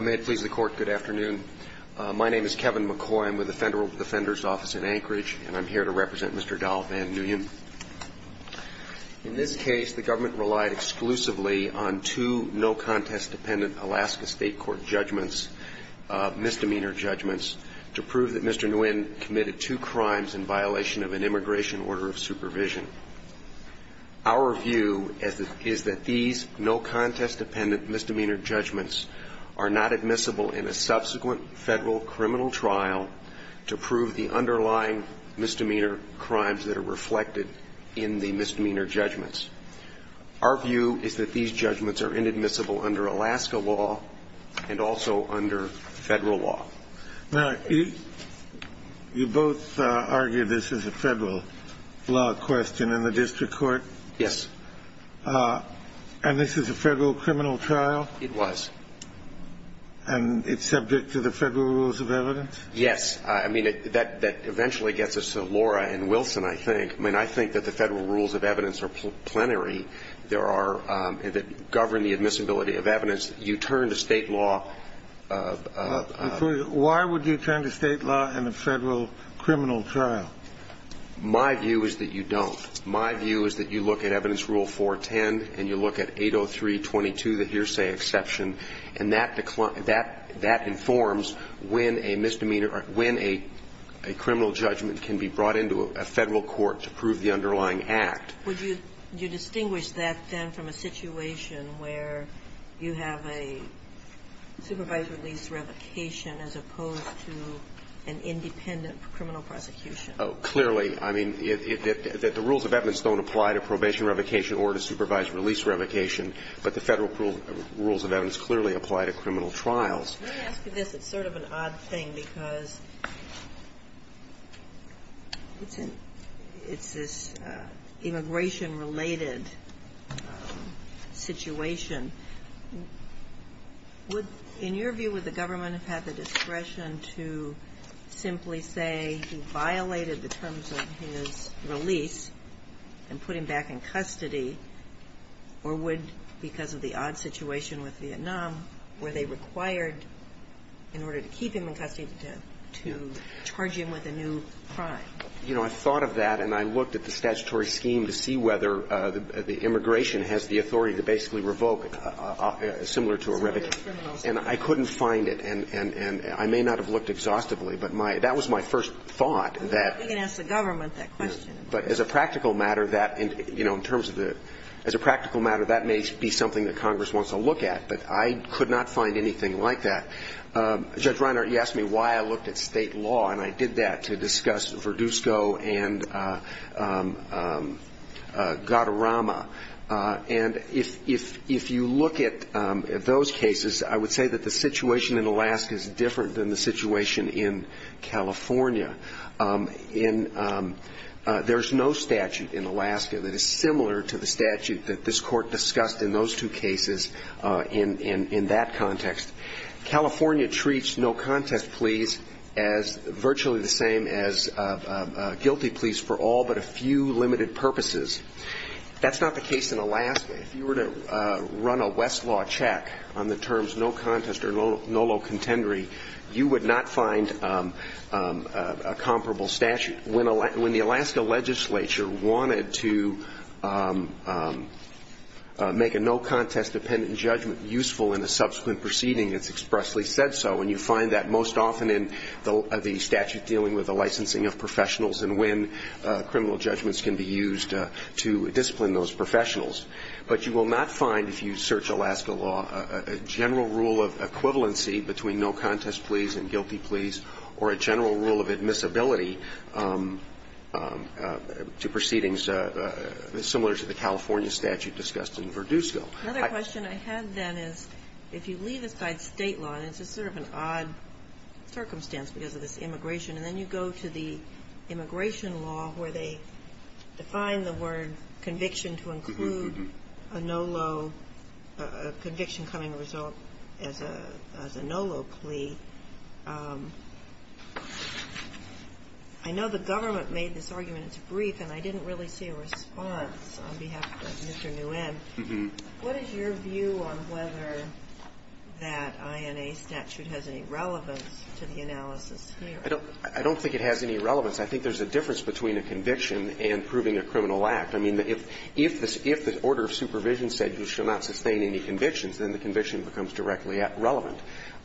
May it please the Court, good afternoon. My name is Kevin McCoy. I'm with the Federal Defender's Office in Anchorage, and I'm here to represent Mr. Dahl Van Nguyen. In this case, the government relied exclusively on two no-contest-dependent Alaska State Court judgments, misdemeanor judgments, to prove that Mr. Nguyen committed two crimes in violation of an immigration order of supervision. Our view is that these no-contest-dependent misdemeanor judgments are not admissible in a subsequent federal criminal trial to prove the underlying misdemeanor crimes that are reflected in the misdemeanor judgments. Our view is that these judgments are inadmissible under Alaska law and also under federal law. Now, you both argue this is a federal law question in the district court. Yes. And this is a federal criminal trial? It was. And it's subject to the federal rules of evidence? Yes. I mean, that eventually gets us to Laura and Wilson, I think. I mean, I think that the federal rules of evidence are plenary. There are – that govern the admissibility of evidence. You turn to State law. Why would you turn to State law in a federal criminal trial? My view is that you don't. My view is that you look at Evidence Rule 410 and you look at 803.22, the hearsay exception, and that informs when a misdemeanor or when a criminal judgment can be brought into a federal court to prove the underlying act. Would you distinguish that, then, from a situation where you have a supervised release revocation as opposed to an independent criminal prosecution? Oh, clearly. I mean, the rules of evidence don't apply to probation revocation or to supervised release revocation, but the federal rules of evidence clearly apply to criminal trials. Let me ask you this. It's sort of an odd thing because it's an – it's this immigration-related situation. Would – in your view, would the government have had the discretion to simply say he violated the terms of his release and put him back in custody, or would, because of the odd situation with Vietnam, were they required, in order to keep him in custody, to charge him with a new crime? You know, I thought of that, and I looked at the statutory scheme to see whether the immigration has the authority to basically revoke similar to a revocation. And I couldn't find it, and I may not have looked exhaustively, but my – that was my first thought that – We can ask the government that question. But as a practical matter, that – you know, in terms of the – as a practical matter, that may be something that Congress wants to look at, but I could not find anything like that. Judge Reiner, you asked me why I looked at State law, and I did that to discuss Verdusco and Gautarama. And if you look at those cases, I would say that the situation in Alaska is different than the situation in California. In – there's no statute in Alaska that is similar to the statute that this Court discussed in those two cases in that context. California treats no contest pleas as virtually the same as guilty pleas for all but a few limited purposes. That's not the case in Alaska. If you were to run a Westlaw check on the terms no contest or no low contendory, you would not find a comparable statute. When the Alaska legislature wanted to make a no contest dependent judgment useful in a subsequent proceeding, it's expressly said so. And you find that most often in the statute dealing with the licensing of professionals and when criminal judgments can be used to discipline those professionals. But you will not find, if you search Alaska law, a general rule of equivalency between no contest pleas and guilty pleas or a general rule of admissibility to proceedings similar to the California statute discussed in Verdusco. Another question I have, then, is if you leave aside State law, and it's just sort of an odd circumstance because of this immigration, and then you go to the immigration law where they define the word conviction to include a no low conviction coming as a result as a no low plea, I know the government made this argument. It's brief, and I didn't really see a response on behalf of Mr. Nguyen. What is your view on whether that INA statute has any relevance to the analysis here? I don't think it has any relevance. I think there's a difference between a conviction and proving a criminal act. I mean, if the order of supervision said you shall not sustain any convictions, then the conviction becomes directly relevant.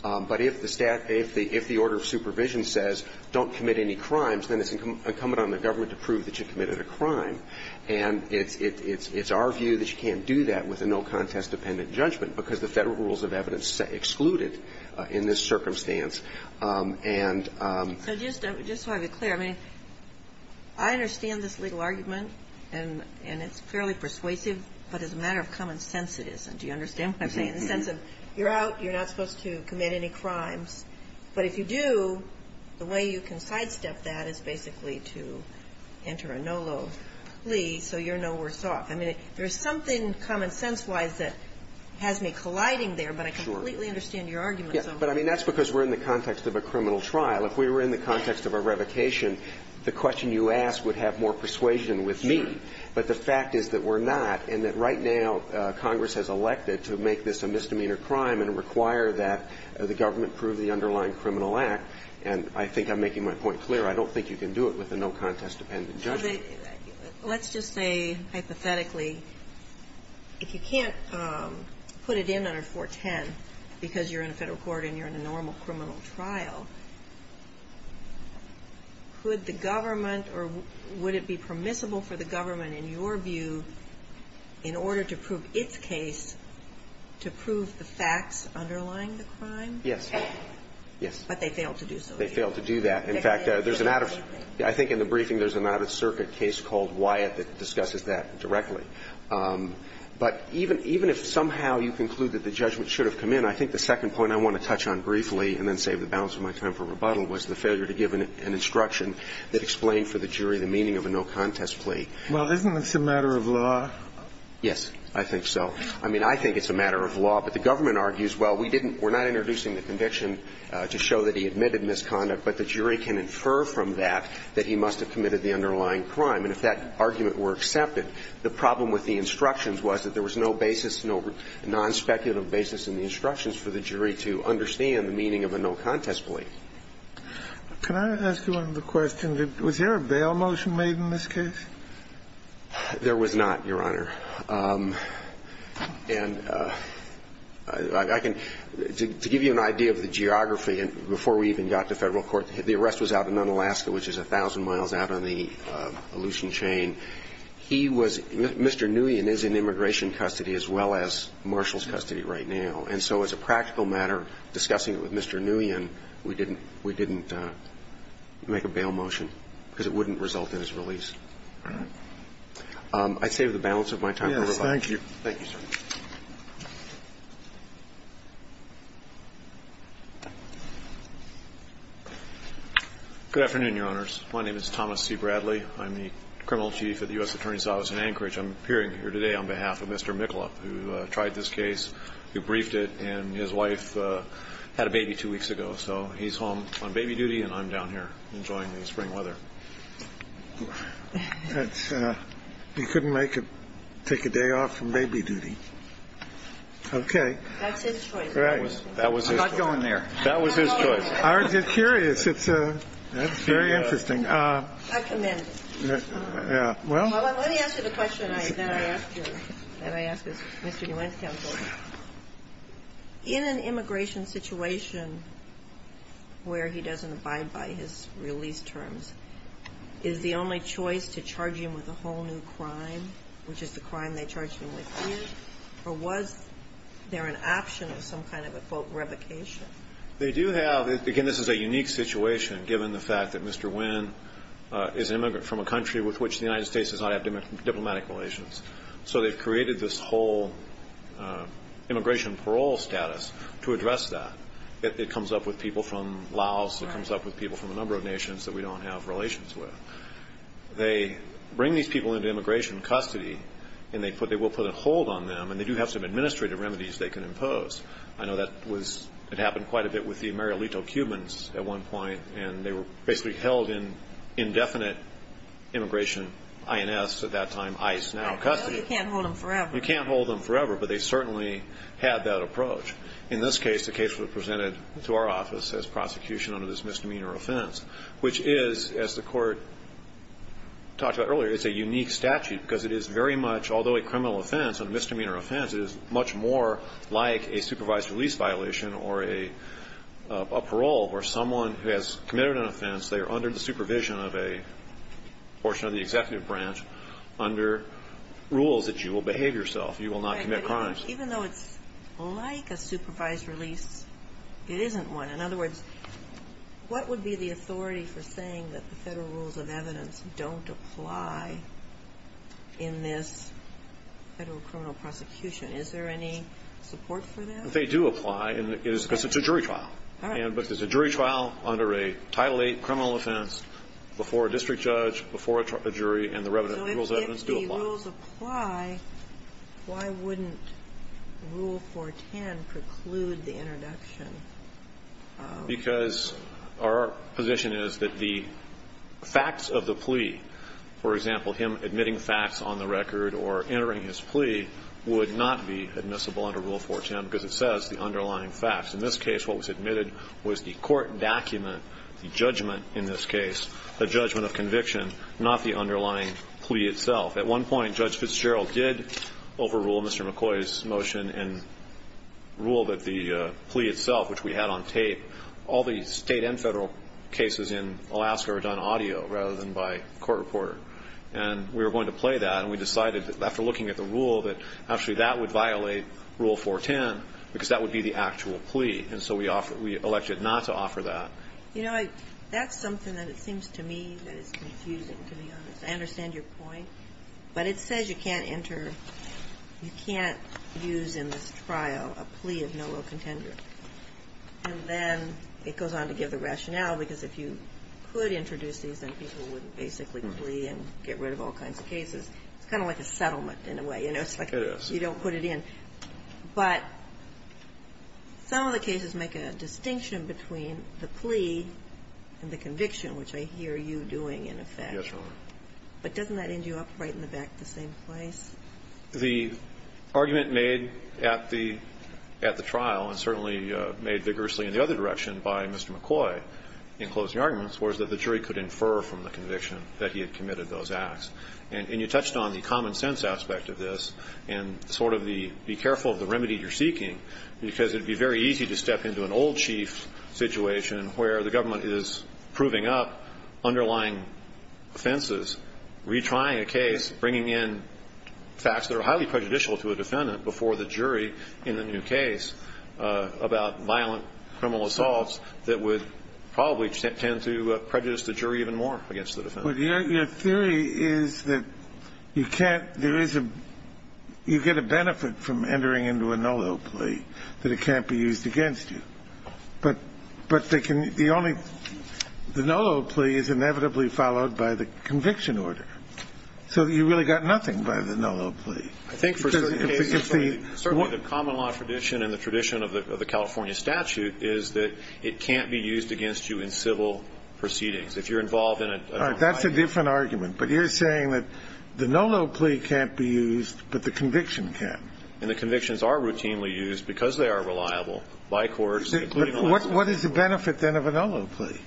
But if the order of supervision says don't commit any crimes, then it's incumbent on the government to prove that you committed a crime. And it's our view that you can't do that with a no contest dependent judgment because the Federal rules of evidence exclude it in this circumstance. And so just to have it clear, I mean, I understand this legal argument, and it's fairly persuasive, but as a matter of common sense, it isn't. Do you understand what I'm saying? The sense of you're out, you're not supposed to commit any crimes. But if you do, the way you can sidestep that is basically to enter a no low plea so you're no worse off. I mean, there's something common sense-wise that has me colliding there, but I completely understand your argument. But, I mean, that's because we're in the context of a criminal trial. If we were in the context of a revocation, the question you asked would have more persuasion with me. But the fact is that we're not, and that right now Congress has elected to make this a misdemeanor crime and require that the government prove the underlying criminal act, and I think I'm making my point clear, I don't think you can do it with a no contest dependent judgment. Let's just say, hypothetically, if you can't put it in under 410 because you're in a Federal court and you're in a normal criminal trial, could the government or would it be permissible for the government, in your view, in order to prove its case, to prove the facts underlying the crime? Yes. Yes. But they failed to do so. They failed to do that. In fact, there's an out-of-circuit. I think in the briefing there's an out-of-circuit case called Wyatt that discusses that directly. But even if somehow you conclude that the judgment should have come in, I think the second point I want to touch on briefly and then save the balance of my time for rebuttal was the failure to give an instruction that explained for the jury the meaning of a no contest plea. Well, isn't this a matter of law? Yes, I think so. I mean, I think it's a matter of law, but the government argues, well, we didn't we're not introducing the conviction to show that he admitted misconduct, but the jury can infer from that that he must have committed the underlying crime. And if that argument were accepted, the problem with the instructions was that there was no basis, no non-speculative basis in the instructions for the jury to understand the meaning of a no contest plea. Can I ask you another question? Was there a bail motion made in this case? There was not, Your Honor. And I can to give you an idea of the geography, and before we even got to Federal Court, the arrest was out in Nunn, Alaska, which is a thousand miles out on the Aleutian Chain. He was Mr. Nguyen is in immigration custody as well as Marshall's custody right now. And so as a practical matter, discussing it with Mr. Nguyen, we didn't we didn't make a bail motion because it wouldn't result in his release. I'd save the balance of my time. Thank you. Thank you, sir. Good afternoon, Your Honors. My name is Thomas C. Bradley. I'm the criminal chief at the U.S. Attorney's Office in Anchorage. I'm appearing here today on behalf of Mr. Miklop, who tried this case, who briefed it, and his wife had a baby two weeks ago. So he's home on baby duty, and I'm down here enjoying the spring weather. He couldn't make it, take a day off from baby duty. Okay. That's his choice. That was his choice. I'm not going there. That was his choice. I'm just curious. It's very interesting. I commend it. Yeah. Let me ask you the question that I asked you, that I asked Mr. Nguyen's counsel. In an immigration situation where he doesn't abide by his release terms, is the only choice to charge him with a whole new crime, which is the crime they charged him with here? Or was there an option of some kind of a, quote, revocation? They do have. Again, this is a unique situation, given the fact that Mr. Nguyen is an immigrant from a country with which the United States does not have diplomatic relations. So they've created this whole immigration parole status to address that. It comes up with people from Laos. It comes up with people from a number of nations that we don't have relations with. They bring these people into immigration custody, and they will put a hold on them, and they do have some administrative remedies they can impose. I know that it happened quite a bit with the Marielito Cubans at one point, and they were basically held in indefinite immigration, INS at that time, ICE now, custody. You can't hold them forever. You can't hold them forever, but they certainly had that approach. In this case, the case was presented to our office as prosecution under this misdemeanor offense, which is, as the Court talked about earlier, it's a unique statute because it is very much, although a criminal offense, a misdemeanor offense, it is much more like a supervised release violation or a parole where someone who has committed an offense, they are under the supervision of a portion of the executive branch under rules that you will behave yourself. You will not commit crimes. Even though it's like a supervised release, it isn't one. In other words, what would be the authority for saying that the federal rules of evidence don't apply in this federal criminal prosecution? Is there any support for that? They do apply because it's a jury trial. All right. But it's a jury trial under a Title VIII criminal offense before a district judge, before a jury, and the rules of evidence do apply. If the rules apply, why wouldn't Rule 410 preclude the introduction of? Because our position is that the facts of the plea, for example, him admitting facts on the record or entering his plea would not be admissible under Rule 410 because it says the underlying facts. In this case, what was admitted was the court document, the judgment in this case, the judgment of conviction, not the underlying plea itself. At one point, Judge Fitzgerald did overrule Mr. McCoy's motion and rule that the plea itself, which we had on tape, all the state and federal cases in Alaska are done audio rather than by court reporter. And we were going to play that, and we decided after looking at the rule that actually that would violate Rule 410 because that would be the actual plea. And so we elected not to offer that. You know, that's something that it seems to me that is confusing, to be honest. I understand your point. But it says you can't enter, you can't use in this trial a plea of no real contender. And then it goes on to give the rationale, because if you could introduce these, then people would basically plea and get rid of all kinds of cases. It's kind of like a settlement in a way. You know, it's like you don't put it in. But some of the cases make a distinction between the plea and the conviction, which I hear you doing, in effect. Yes, Your Honor. But doesn't that end you up right in the back, the same place? The argument made at the trial, and certainly made vigorously in the other direction by Mr. McCoy in closing arguments, was that the jury could infer from the conviction that he had committed those acts. And you touched on the common sense aspect of this and sort of the be careful of the remedy you're seeking, because it would be very easy to step into an old chief situation where the government is proving up underlying offenses, retrying a case, bringing in facts that are highly prejudicial to a defendant before the jury in the new case about violent criminal assaults that would probably tend to prejudice the jury even more against the defendant. But your theory is that you can't – there is a – you get a benefit from entering into a no-doubt plea, that it can't be used against you. But they can – the only – the no-doubt plea is inevitably followed by the conviction order. So you really got nothing by the no-doubt plea. I think for certain cases, certainly the common law tradition and the tradition of the California statute is that it can't be used against you in civil proceedings. If you're involved in a – All right. That's a different argument. But you're saying that the no-doubt plea can't be used, but the conviction can. And the convictions are routinely used because they are reliable by courts. What is the benefit then of a no-doubt plea?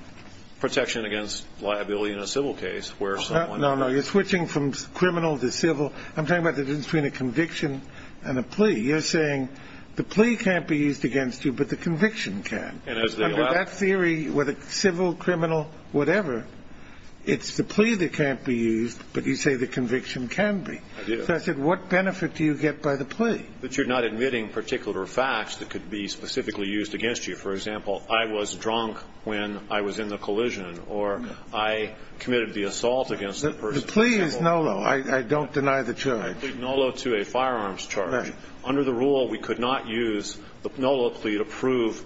Protection against liability in a civil case where someone – No, no. You're switching from criminal to civil. I'm talking about the difference between a conviction and a plea. You're saying the plea can't be used against you, but the conviction can. And as the – Under that theory, whether civil, criminal, whatever, it's the plea that can't be used, but you say the conviction can be. I do. Justice, what benefit do you get by the plea? That you're not admitting particular facts that could be specifically used against you. For example, I was drunk when I was in the collision or I committed the assault against the person. The plea is NOLO. I don't deny the charge. I plead NOLO to a firearms charge. Right. Under the rule, we could not use the NOLO plea to prove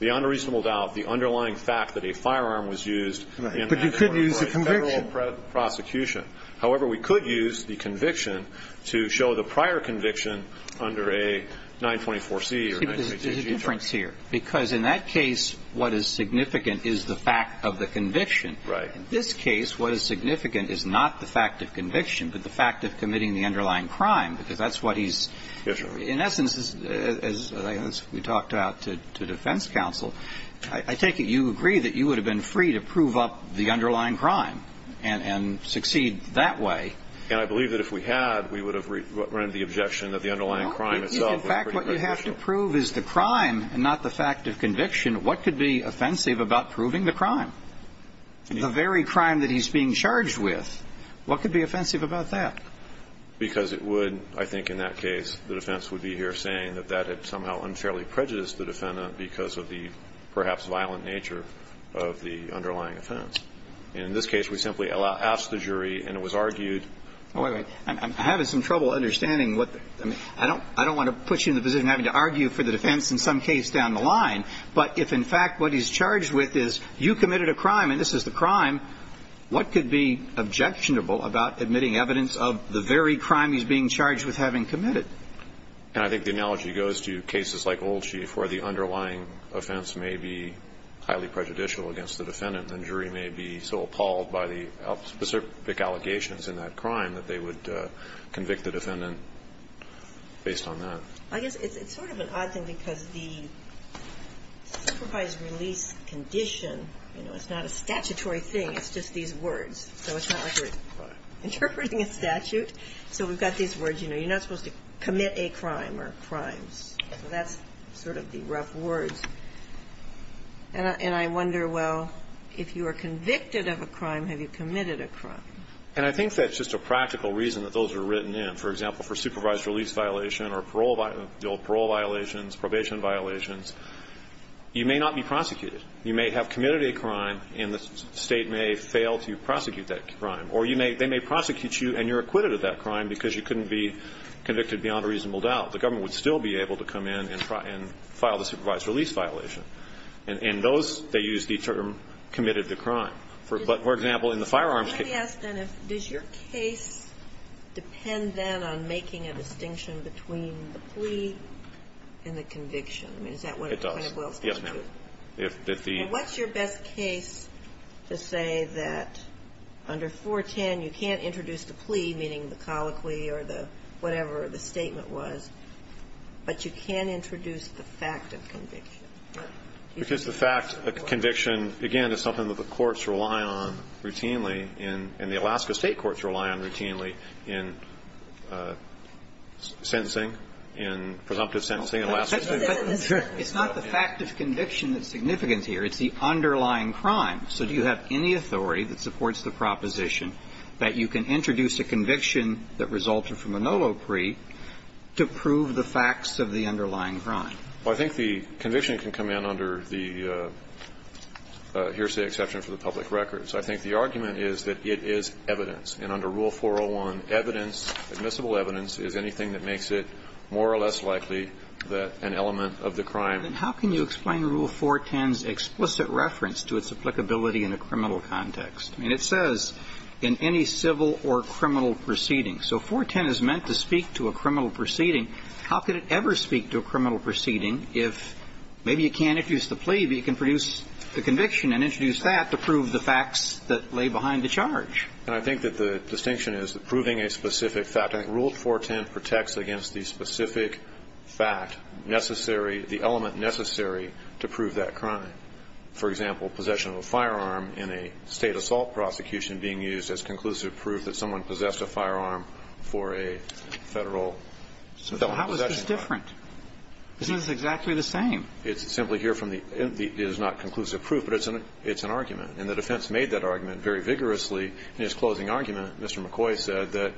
the unreasonable doubt, the underlying fact that a firearm was used in a federal prosecution. Right. But you could use the conviction. However, we could use the conviction to show the prior conviction under a 924C or 922G. There's a difference here, because in that case, what is significant is the fact of the conviction. Right. In this case, what is significant is not the fact of conviction, but the fact of committing the underlying crime, because that's what he's – Yes, Your Honor. In essence, as we talked about to defense counsel, I take it you agree that you And I believe that if we had, we would have rendered the objection that the underlying crime itself was pretty beneficial. No. In fact, what you have to prove is the crime and not the fact of conviction. What could be offensive about proving the crime? The very crime that he's being charged with, what could be offensive about that? Because it would, I think, in that case, the defense would be here saying that that had somehow unfairly prejudiced the defendant because of the perhaps violent nature of the underlying offense. In this case, we simply asked the jury and it was argued – Wait, wait. I'm having some trouble understanding what – I don't want to put you in the position of having to argue for the defense in some case down the line, but if in fact what he's charged with is you committed a crime and this is the crime, what could be objectionable about admitting evidence of the very crime he's being charged with having committed? And I think the analogy goes to cases like Old Chief where the underlying offense may be highly prejudicial against the defendant and the jury may be so appalled by the specific allegations in that crime that they would convict the defendant based on that. I guess it's sort of an odd thing because the supervised release condition, you know, it's not a statutory thing. It's just these words. So it's not like you're interpreting a statute. So we've got these words, you know, you're not supposed to commit a crime or crimes. So that's sort of the rough words. And I wonder, well, if you are convicted of a crime, have you committed a crime? And I think that's just a practical reason that those are written in. For example, for supervised release violation or parole violations, probation violations, you may not be prosecuted. You may have committed a crime and the State may fail to prosecute that crime. Or you may – they may prosecute you and you're acquitted of that crime because you couldn't be convicted beyond a reasonable doubt. The government would still be able to come in and file the supervised release violation. And those, they use the term committed to crime. But, for example, in the firearms case – Can I ask then if – does your case depend then on making a distinction between the plea and the conviction? I mean, is that what it does? It does. Yes, ma'am. If the – Well, what's your best case to say that under 410 you can't introduce the plea, meaning the colloquy or the – whatever the statement was, but you can introduce the fact of conviction? Because the fact – the conviction, again, is something that the courts rely on routinely in – and the Alaska State courts rely on routinely in sentencing, in presumptive sentencing in Alaska State courts. No. It's not the fact of conviction that's significant here. It's the underlying crime. So do you have any authority that supports the proposition that you can introduce a conviction that resulted from a no-low plea to prove the facts of the underlying crime? Well, I think the conviction can come in under the hearsay exception for the public records. I think the argument is that it is evidence. And under Rule 401, evidence, admissible evidence, is anything that makes it more or less likely that an element of the crime – Then how can you explain Rule 410's explicit reference to its applicability in a criminal context? I mean, it says, in any civil or criminal proceeding. So 410 is meant to speak to a criminal proceeding. How could it ever speak to a criminal proceeding if maybe you can't introduce the plea, but you can produce the conviction and introduce that to prove the facts that lay behind the charge? And I think that the distinction is that proving a specific fact – I think Rule 410 protects against the specific fact necessary – the element necessary to prove that crime. For example, possession of a firearm in a State assault prosecution being used as conclusive proof that someone possessed a firearm for a Federal – So how is this different? Isn't this exactly the same? It's simply here from the – it is not conclusive proof, but it's an argument. And the defense made that argument very vigorously in its closing argument. Mr. McCoy said that,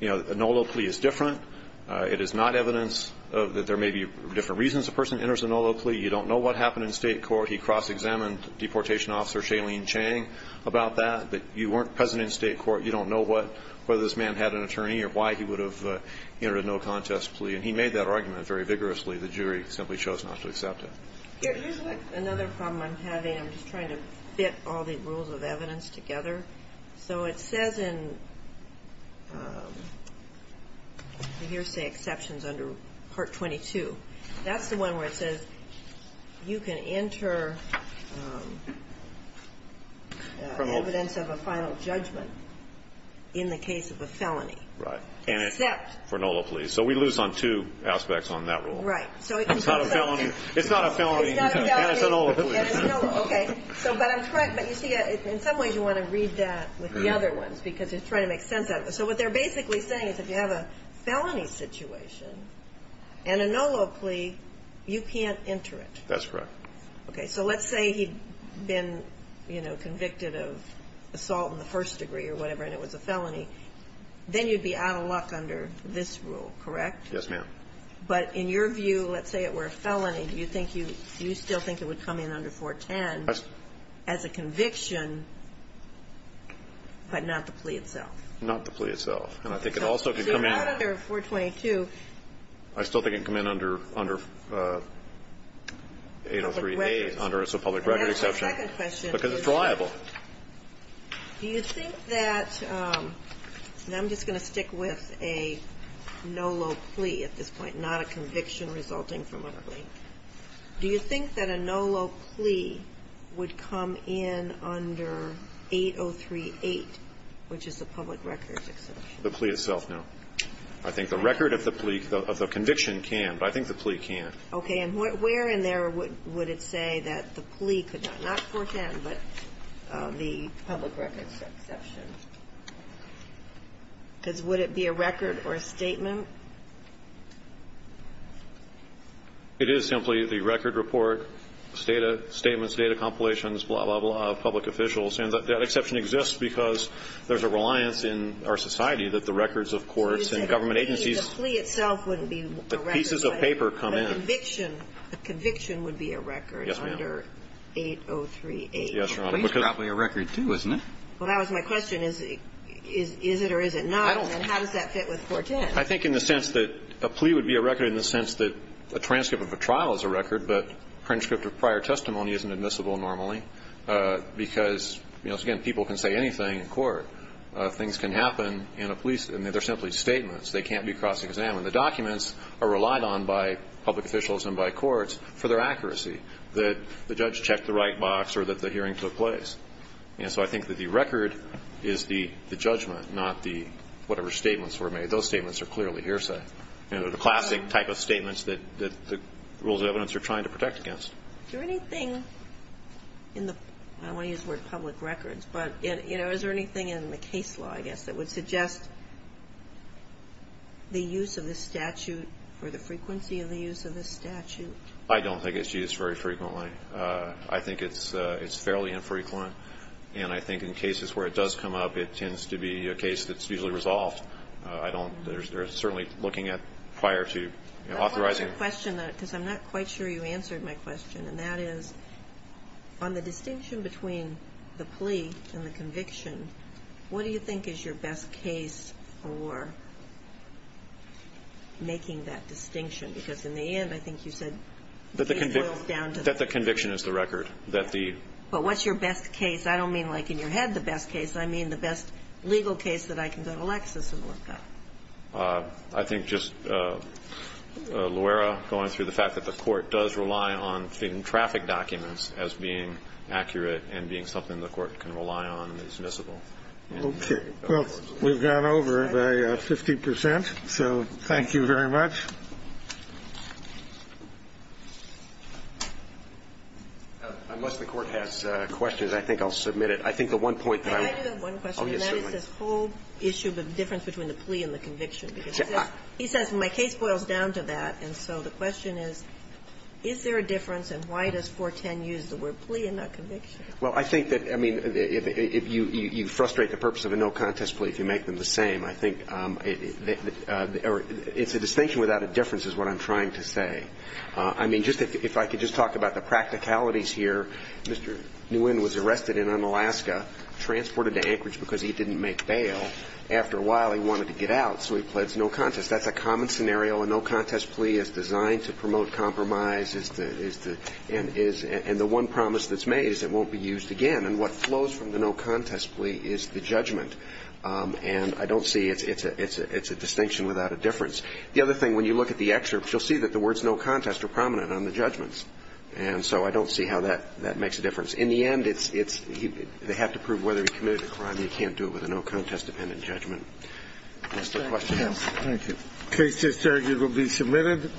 you know, a no-low plea is different. It is not evidence that there may be different reasons a person enters a no-low plea. You don't know what happened in State court. He cross-examined Deportation Officer Shailene Chang about that, that you weren't present in State court. You don't know what – whether this man had an attorney or why he would have entered a no-contest plea. And he made that argument very vigorously. The jury simply chose not to accept it. Here's another problem I'm having. I'm just trying to fit all the rules of evidence together. So it says in the hearsay exceptions under Part 22, that's the one where it says you can enter evidence of a final judgment in the case of a felony. Right. Except – For no-low pleas. So we lose on two aspects on that rule. Right. It's not a felony. It's not a felony. It's not a felony. And it's a no-low plea. Okay. So, but I'm correct. But you see, in some ways you want to read that with the other ones, because you're trying to make sense out of it. So what they're basically saying is if you have a felony situation and a no-low plea, you can't enter it. That's correct. Okay. So let's say he'd been, you know, convicted of assault in the first degree or whatever, and it was a felony. Then you'd be out of luck under this rule, correct? Yes, ma'am. But in your view, let's say it were a felony, do you think you – do you still think it would come in under 410? As a conviction, but not the plea itself. Not the plea itself. And I think it also could come in – So out of their 422. I still think it can come in under 803A, under a public record exception. And that's my second question. Because it's reliable. Do you think that – and I'm just going to stick with a no-low plea at this point, not a conviction resulting from a link. Do you think that a no-low plea would come in under 803A, which is a public record exception? The plea itself, no. I think the record of the plea – of the conviction can, but I think the plea can't. Okay. And where in there would it say that the plea could not – not 410, but the public record exception? Because would it be a record or a statement? It is simply the record report, statements, data compilations, blah, blah, blah, of public officials. And that exception exists because there's a reliance in our society that the records of courts and government agencies – So you said the plea itself wouldn't be a record. The pieces of paper come in. But a conviction – a conviction would be a record under 803A. Yes, ma'am. Yes, Your Honor. A plea is probably a record, too, isn't it? Well, that was my question. Is it or is it not? I don't – And how does that fit with 410? I think in the sense that a plea would be a record in the sense that a transcript of a trial is a record, but a transcript of prior testimony isn't admissible normally because, you know, again, people can say anything in court. Things can happen in a – they're simply statements. They can't be cross-examined. The documents are relied on by public officials and by courts for their accuracy, that the judge checked the right box or that the hearing took place. And so I think that the record is the judgment, not the – whatever statements were made. Those statements are clearly hearsay. They're the classic type of statements that the rules of evidence are trying to protect against. Is there anything in the – I don't want to use the word public records, but is there anything in the case law, I guess, that would suggest the use of this statute or the frequency of the use of this statute? I don't think it's used very frequently. I think it's fairly infrequent. And I think in cases where it does come up, it tends to be a case that's usually resolved. I don't – they're certainly looking at prior to authorizing it. I want to ask a question, because I'm not quite sure you answered my question, and that is on the distinction between the plea and the conviction, what do you think is your best case for making that distinction? Because in the end, I think you said the case boils down to the plea. That the conviction is the record. But what's your best case? I don't mean, like, in your head the best case. I mean the best legal case that I can go to Lexis and look up. I think just Loera, going through the fact that the court does rely on traffic documents as being accurate and being something the court can rely on and is admissible. Okay. Well, we've gone over by 50 percent, so thank you very much. Unless the court has questions, I think I'll submit it. I think the one point that I want to make. Can I do that one question? Oh, yes, certainly. And that is this whole issue of the difference between the plea and the conviction. Because he says my case boils down to that, and so the question is, is there a difference and why does 410 use the word plea and not conviction? Well, I think that, I mean, if you frustrate the purpose of a no-contest plea if you make them the same, I think it's a distinction without a difference is what I'm trying to say. I mean, just if I could just talk about the practicalities here. Mr. Nguyen was arrested in Unalaska, transported to Anchorage because he didn't make bail. After a while, he wanted to get out, so he pleads no-contest. That's a common scenario. A no-contest plea is designed to promote compromise and the one promise that's made is it won't be used again. And what flows from the no-contest plea is the judgment. And I don't see it's a distinction without a difference. The other thing, when you look at the excerpts, you'll see that the words no-contest are prominent on the judgments. And so I don't see how that makes a difference. In the end, it's they have to prove whether he committed a crime. You can't do it with a no-contest dependent judgment. That's the question. Thank you. Cases, sir, you will be submitted.